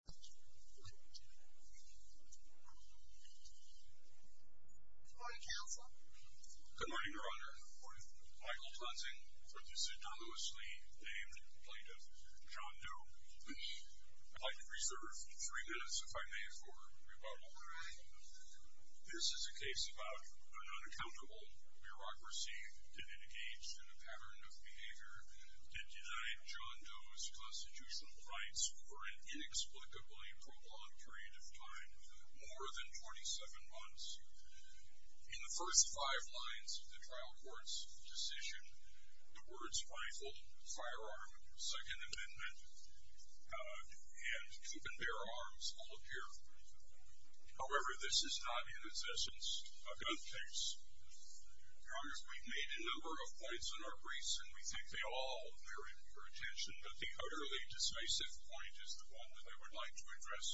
Good morning counsel. Good morning your honor. Michael Clensing. This is a dullously named complaint of John Doe. I'd like to reserve three minutes if I may for rebuttal. This is a case about an unaccountable bureaucracy that engaged in a pattern of behavior that denied John Doe's constitutional rights for an inexplicably prolonged period of time, more than 27 months. In the first five lines of the trial court's decision, the words rifle, firearm, second amendment, and keep and bear arms all appear. However, this is not in its essence a gun case. Your honor, we've made a number of points in our briefs and we think they'll all merit your attention but the utterly decisive point is the one that I would like to address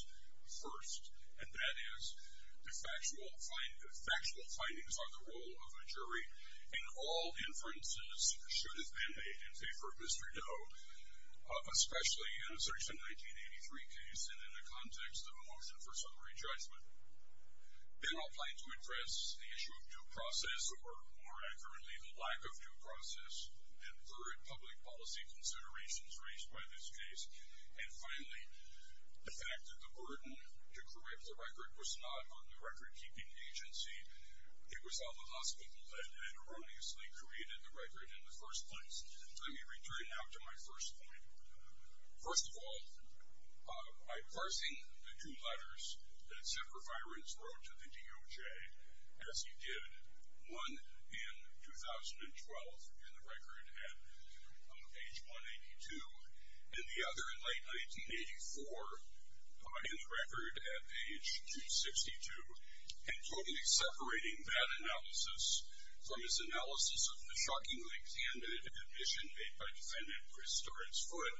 first and that is the factual find the factual findings on the role of a jury in all inferences should have been made in favor of Mr. Doe, especially in a search in 1983 case and in the context of a motion for summary judgment. Then I'll plan to address the issue of due process or more accurately the lack of due process and third public policy considerations raised by this case. And finally, the fact that the burden to correct the record was not on the record-keeping agency, it was on the hospital that had erroneously created the record in the first place. Let me return now to my first point. First of all, by parsing the two letters that are on page 182 and the other in late 1984, in the record at page 262, and totally separating that analysis from his analysis of the shockingly candid admission made by defendant Chris Stewart's foot,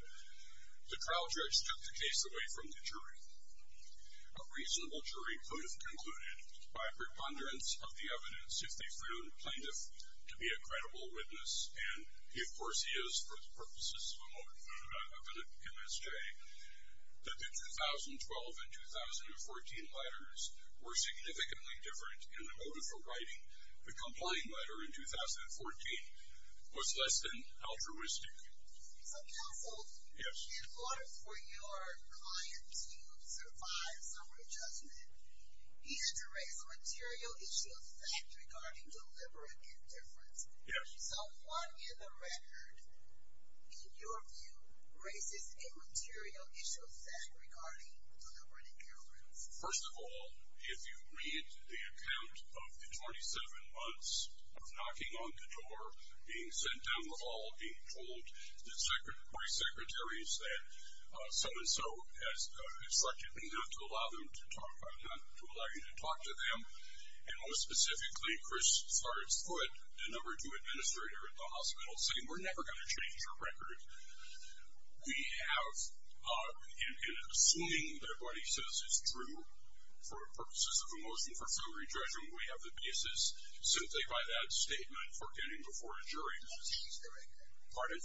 the trial judge took the case away from the jury. A reasonable jury could have concluded by preponderance of the evidence if they found plaintiff to be a credible witness and of course he is for the purposes of MSJ, that the 2012 and 2014 letters were significantly different in the motive for writing the complying letter in 2014 was less than altruistic. So counsel, in order for your client to survive summary judgment, he had to raise a material issue of fact regarding deliberate indifference. So what in the record, in your view, raises a material issue of fact regarding deliberate indifference? First of all, if you read the account of the 27 months of knocking on the door, being sent down the hall, being told that the secretary, the party secretary said so-and-so has instructed me not to allow them to talk, not to allow you to talk to them, and most specifically, Chris Stewart's foot, the number two administrator at the hospital, saying we're never going to change your record. We have, in assuming that what he says is true for purposes of a motion for summary judgment, we have the basis simply by that statement for getting before a jury. He didn't change the record. Pardon?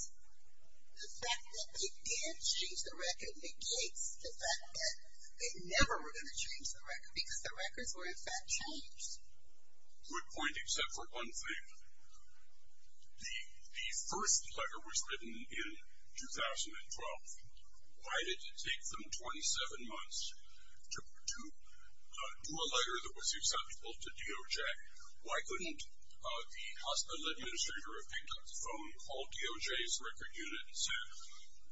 The fact that he did change the record negates the fact that they never were going to change the record because the records were in fact changed. Good point, except for one thing. The first letter was written in 2012. Why did it take them 27 months to do a letter that was acceptable to DOJ? Why couldn't the hospital administrator have picked up the phone, called DOJ's record unit, and said,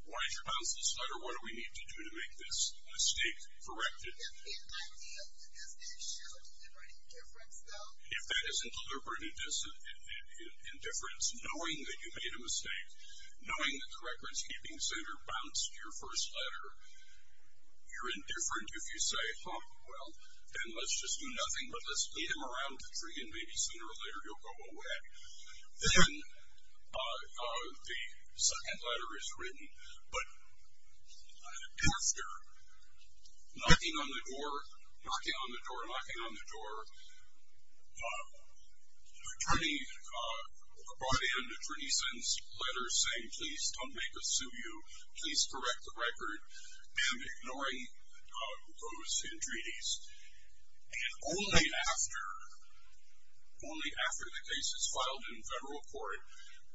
why did you announce this letter? What do we need to do to make this mistake corrected? It would just be an idea. It would just be a show of deliberate indifference, though. If that isn't deliberate indifference, knowing that you made a mistake, knowing that the recordskeeping center bounced your first letter, you're indifferent if you say, huh, well, then let's just do nothing but let's beat them around the tree and maybe sooner or later you'll go away. Then the second letter is written, but after knocking on the door, knocking on the door, knocking on the door, the attorney brought in an attorney's letter saying, please, don't make us sue you. Please correct the record, and ignoring those entreaties. And only after the case is filed in federal court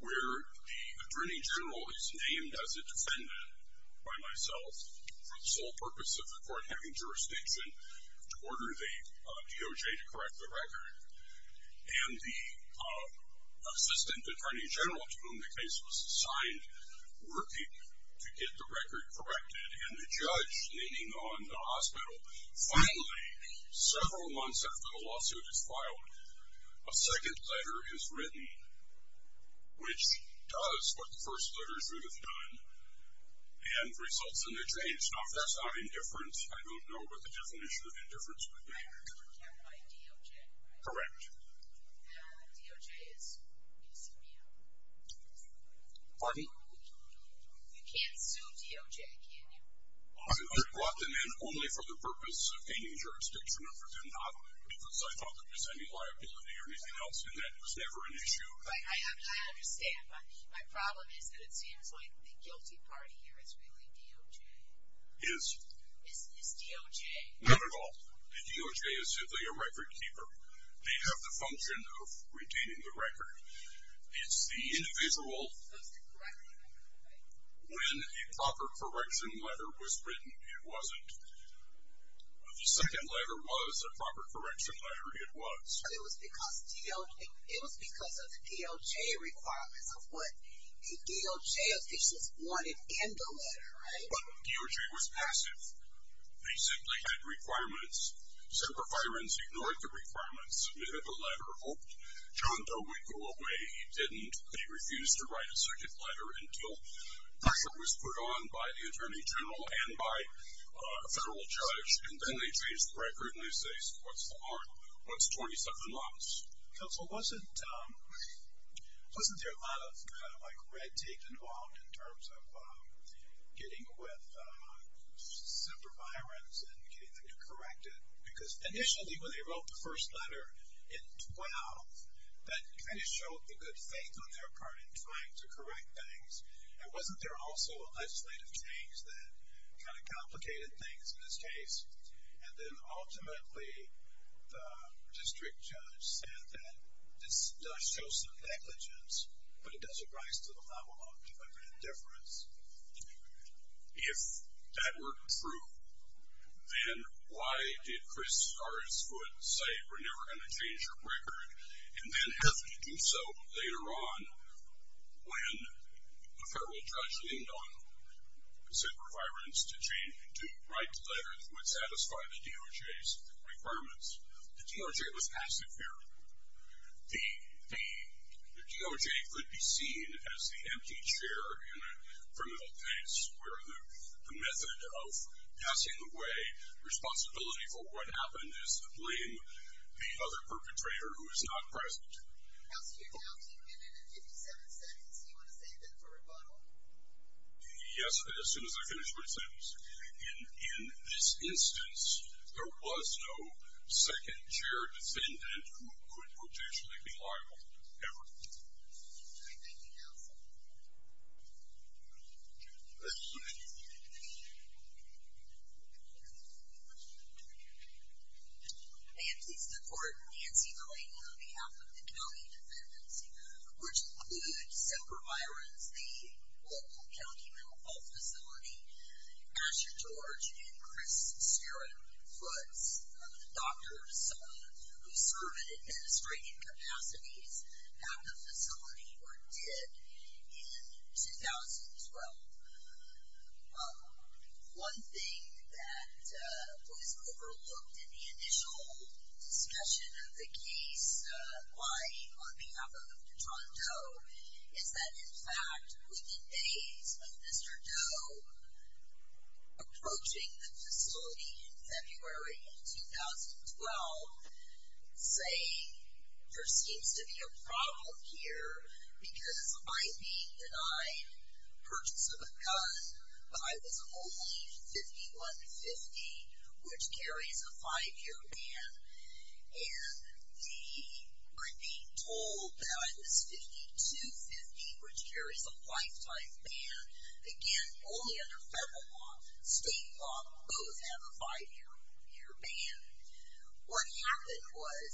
where the attorney general is named as a defendant by myself, for the sole purpose of the court having jurisdiction to order the DOJ to correct the record, and the assistant attorney general to whom the case was assigned working to get the record corrected, and the judge leaning on the hospital, finally, several months after the lawsuit is filed, a second letter is written, which does what the first letter should have done, and results in a change. Now, if that's not indifference, I don't know what the definition of indifference would be. Correct. Pardon? Pardon? Right, I understand, but my problem is that it seems like the guilty party here is really DOJ. Is? Is DOJ? Not at all. The DOJ is simply a record keeper. They have the function of retaining the record. It's the individual. When a proper correction letter was written, it wasn't. The second letter was a proper correction letter. It was. It was because of the DOJ requirements of what the DOJ officials wanted in the letter, right? DOJ was passive. They simply had requirements. Semper Firens ignored the requirements, submitted the letter, hoped John Doe would go away. He didn't. He refused to write a circuit letter until pressure was put on by the attorney general and by a federal judge, and then they changed the record, and they say, what's 27 months? Counsel, wasn't there a lot of kind of like red tape involved in terms of getting with Semper Firens and getting them to correct it? Because initially when they wrote the first letter in 12, that kind of showed the good faith on their part in trying to correct things, and wasn't there also a legislative change that kind of complicated things in this case? And then ultimately the district judge said that this does show some negligence, but it doesn't rise to the level of deliberate indifference. If that were true, then why did Chris Harriswood say we're never going to change the record and then have to do so later on when a federal judge leaned on Semper Firens to write letters that would satisfy the DOJ's requirements? The DOJ was passive here. The DOJ could be seen as the empty chair in a criminal case where the method of passing away responsibility for what happened is to blame the other perpetrator who is not present. How secure do you think you've been in the 57 sentences? Do you want to save that for rebuttal? Yes, as soon as I finish my sentence. And in this instance, there was no second-chair defendant who could potentially be liable, ever. Thank you, counsel. I am pleased to report Nancy Gray on behalf of the county defendants, which includes Semper Firens, the local county mental health facility, Asher George and Chris Steren Foots, the doctors who serve in administrative capacities at the facility were dead in 2012. One thing that was overlooked in the initial discussion of the case, on behalf of John Doe, is that in fact, within days of Mr. Doe approaching the facility in February of 2012, saying there seems to be a problem here because I'm being denied purchase of a gun, but I was only 5150, which carries a five-year ban. And we're being told that I was 5250, which carries a lifetime ban. Again, only under federal law. State law, both have a five-year ban. What happened was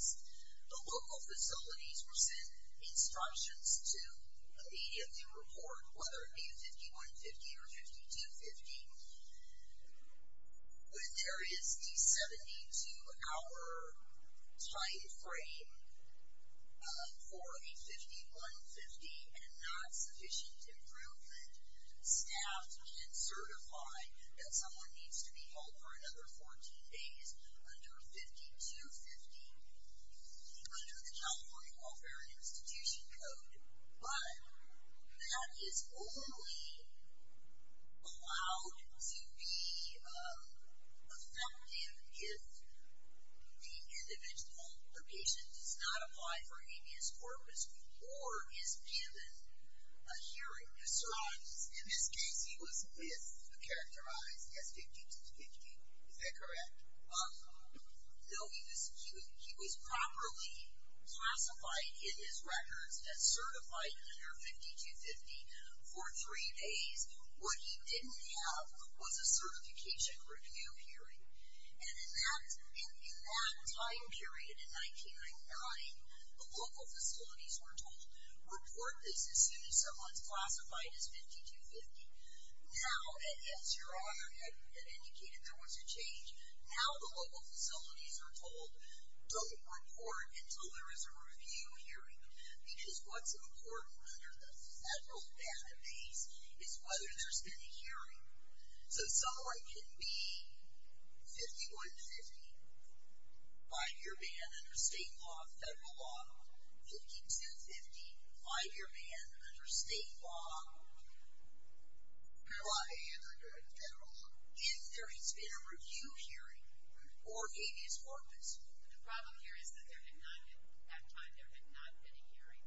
the local facilities were sent instructions to immediately report, whether it be a 5150 or 5250. When there is a 72-hour time frame for a 5150 and not sufficient improvement, staff can certify that someone needs to be held for another 14 days under 5250, under the California Welfare and Institution Code. But that is only allowed to be effective if the individual, the patient, does not apply for habeas corpus or is given a hearing. In this case, he was characterized as 5250. Is that correct? No, he was properly classified in his records as certified under 5250 for three days. What he didn't have was a certification review hearing. And in that time period, in 1999, the local facilities were told, report this as soon as someone is classified as 5250. Now, as Your Honor had indicated, there was a change. Now the local facilities are told, don't report until there is a review hearing. Because what's important under the federal database is whether there's been a hearing. So someone can be 5150, five-year ban under state law, federal law. 5250, five-year ban under state law, federal law. If there has been a review hearing or habeas corpus. The problem here is that there had not been, at that time, there had not been a hearing.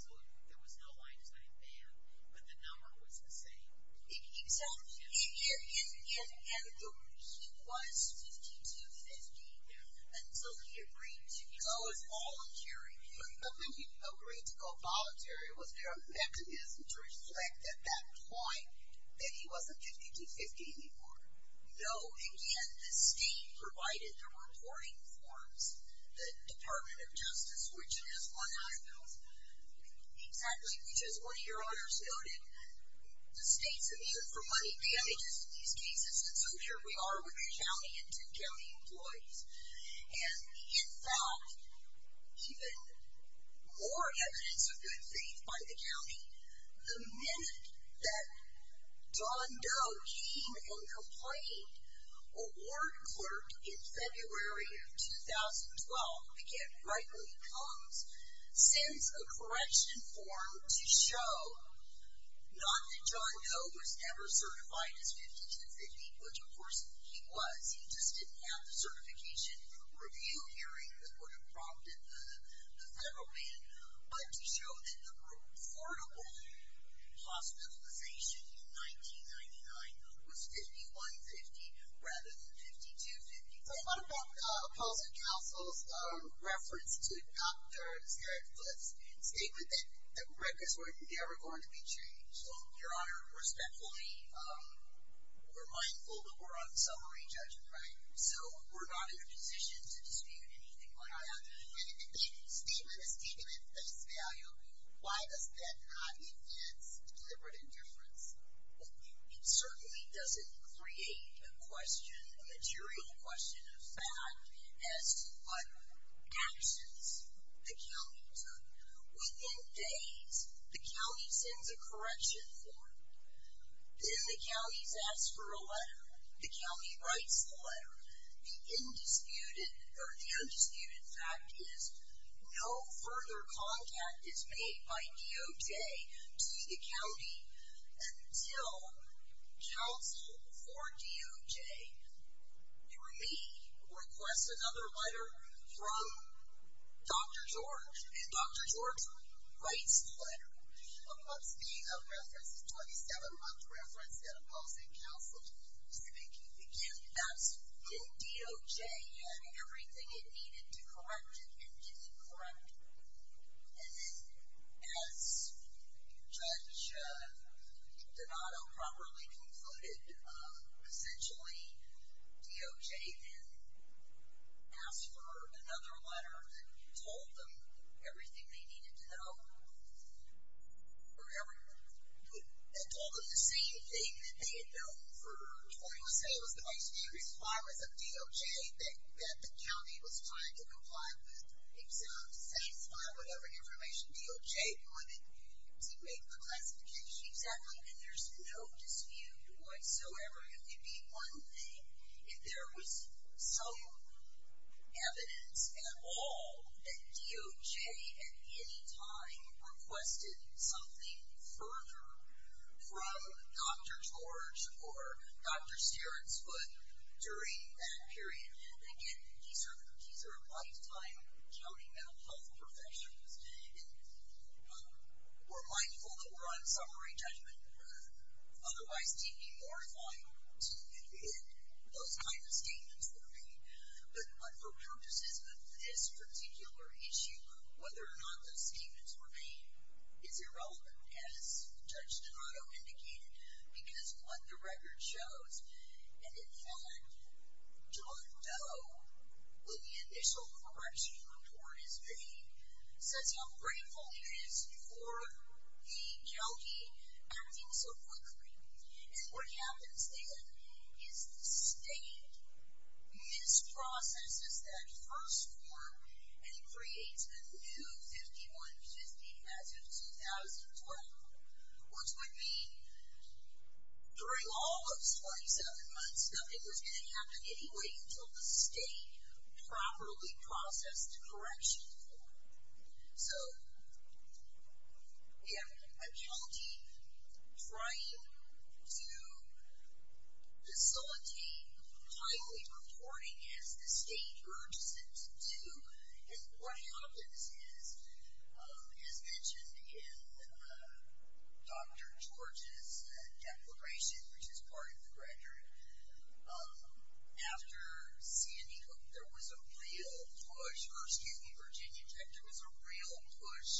So there was no Weinstein ban, but the number was the same. Exactly. And he was 5250 until he agreed to go voluntary. But when he agreed to go voluntary, was there a mechanism to reflect at that point that he wasn't 5250 anymore? No. Again, the state provided the reporting forms. The Department of Justice, which is one of those, exactly, which, as one of your honors noted, the state's immune from money damages in these cases. And so here we are with the county and two county employees. And, in fact, even more evidence of good faith by the county, the minute that Don Doe came and complained, a ward clerk in February of 2012, again, right when he comes, sends a correction form to show not that John Doe was ever certified as 5250, which, of course, he was. He just didn't have the certification review hearing that would have prompted the federal ban, but to show that the reportable hospitalization in 1999 was 5150 rather than 5250. What about Appalachian Council's reference to doctors that put a statement that records were never going to be changed? Your Honor, respectfully, we're mindful that we're on summary judgment. Right. So we're not in a position to dispute anything like that. And if a statement is taken at face value, why does that not enhance deliberate indifference? It certainly doesn't create a question, a material question of fact, as to what actions the county took. Within days, the county sends a correction form. Then the counties ask for a letter. The county writes the letter. The undisputed fact is no further contact is made by DOJ to the county until counsel for DOJ, through me, requests another letter from Dr. George. And Dr. George writes the letter. What's the reference? The 27-month reference that Appalachian Council is making? Again, that's in DOJ, and everything it needed to correct it, it didn't correct. And then, as Judge Donato properly concluded, essentially DOJ then asked for another letter that told them everything they needed to know, that told them the same thing that they had known for 20 years. I would say it was the basic requirements of DOJ that the county was trying to comply with, exempt, satisfy whatever information DOJ wanted to make the classification. Exactly. And there's no dispute whatsoever. It would be one thing if there was some evidence at all that DOJ, at any time, requested something further from Dr. George or Dr. Stearns' foot during that period. And again, these are lifetime county mental health professionals, and we're mindful that we're on summary judgment. Otherwise, it would be more fine to admit those kind of statements were made. But for purposes of this particular issue, whether or not those statements were made is irrelevant, as Judge Donato indicated, because what the record shows, and in fact, John Doe, when the initial correction report is made, says how grateful he is for the county acting so quickly. And what happens then is the state misprocesses that first form, and it creates the new 5150 as of 2012, which would mean during all those 27 months, nothing was going to happen anyway until the state properly processed the correction form. So we have a county trying to facilitate highly reporting as the state urges it to do. And what happens is, as mentioned in Dr. George's declaration, which is part of the record, after Sandy Hook, there was a real push, or excuse me, Virginia Tech, there was a real push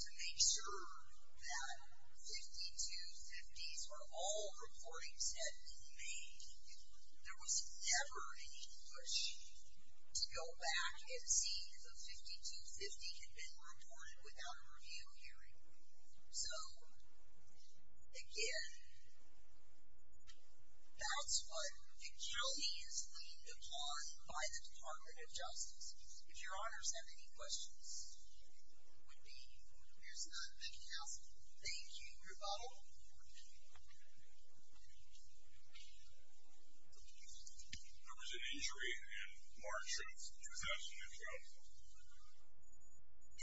to make sure that 5250s were all reporting said to be made. There was never any push to go back and see if a 5250 had been reported without a review hearing. So, again, that's what the county is leaned upon by the Department of Justice. If your honors have any questions, it would be, here's another quick ask. Thank you, Rebuttal. There was an injury in March of 2012.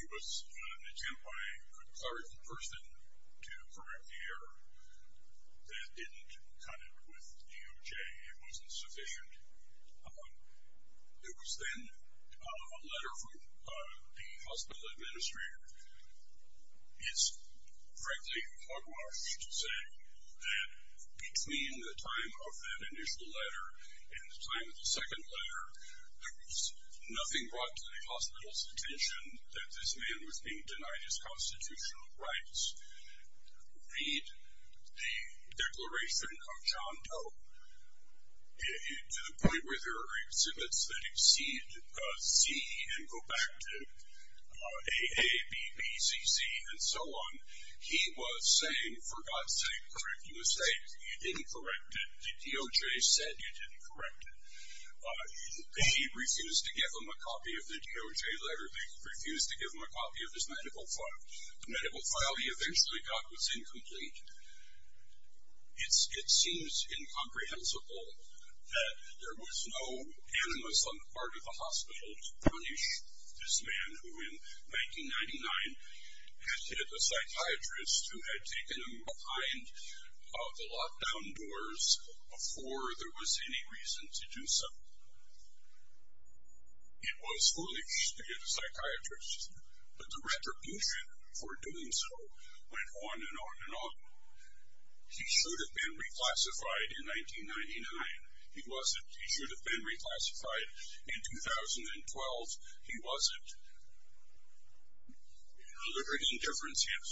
There was an attempt by a clerk person to correct the error that didn't cut it with DOJ. It wasn't sufficient. There was then a letter from the hospital administrator. It's frankly hogwash to say that between the time of that initial letter and the time of the second letter, nothing brought to the hospital's attention that this man was being denied his constitutional rights. Read the declaration of John Doe to the point where there are exhibits that exceed C and go back to A, A, B, B, C, C, and so on. He was saying, for God's sake, correct the mistake. You didn't correct it. The DOJ said you didn't correct it. They refused to give him a copy of the DOJ letter. They refused to give him a copy of his medical file. The medical file he eventually got was incomplete. It seems incomprehensible that there was no animus on the part of the hospital to punish this man who in 1999 had hit a psychiatrist who had taken him behind the lockdown doors before there was any reason to do so. It was foolish to hit a psychiatrist, but the retribution for doing so went on and on and on. He should have been reclassified in 1999. He wasn't. He should have been reclassified in 2012. He wasn't. There is a difference here.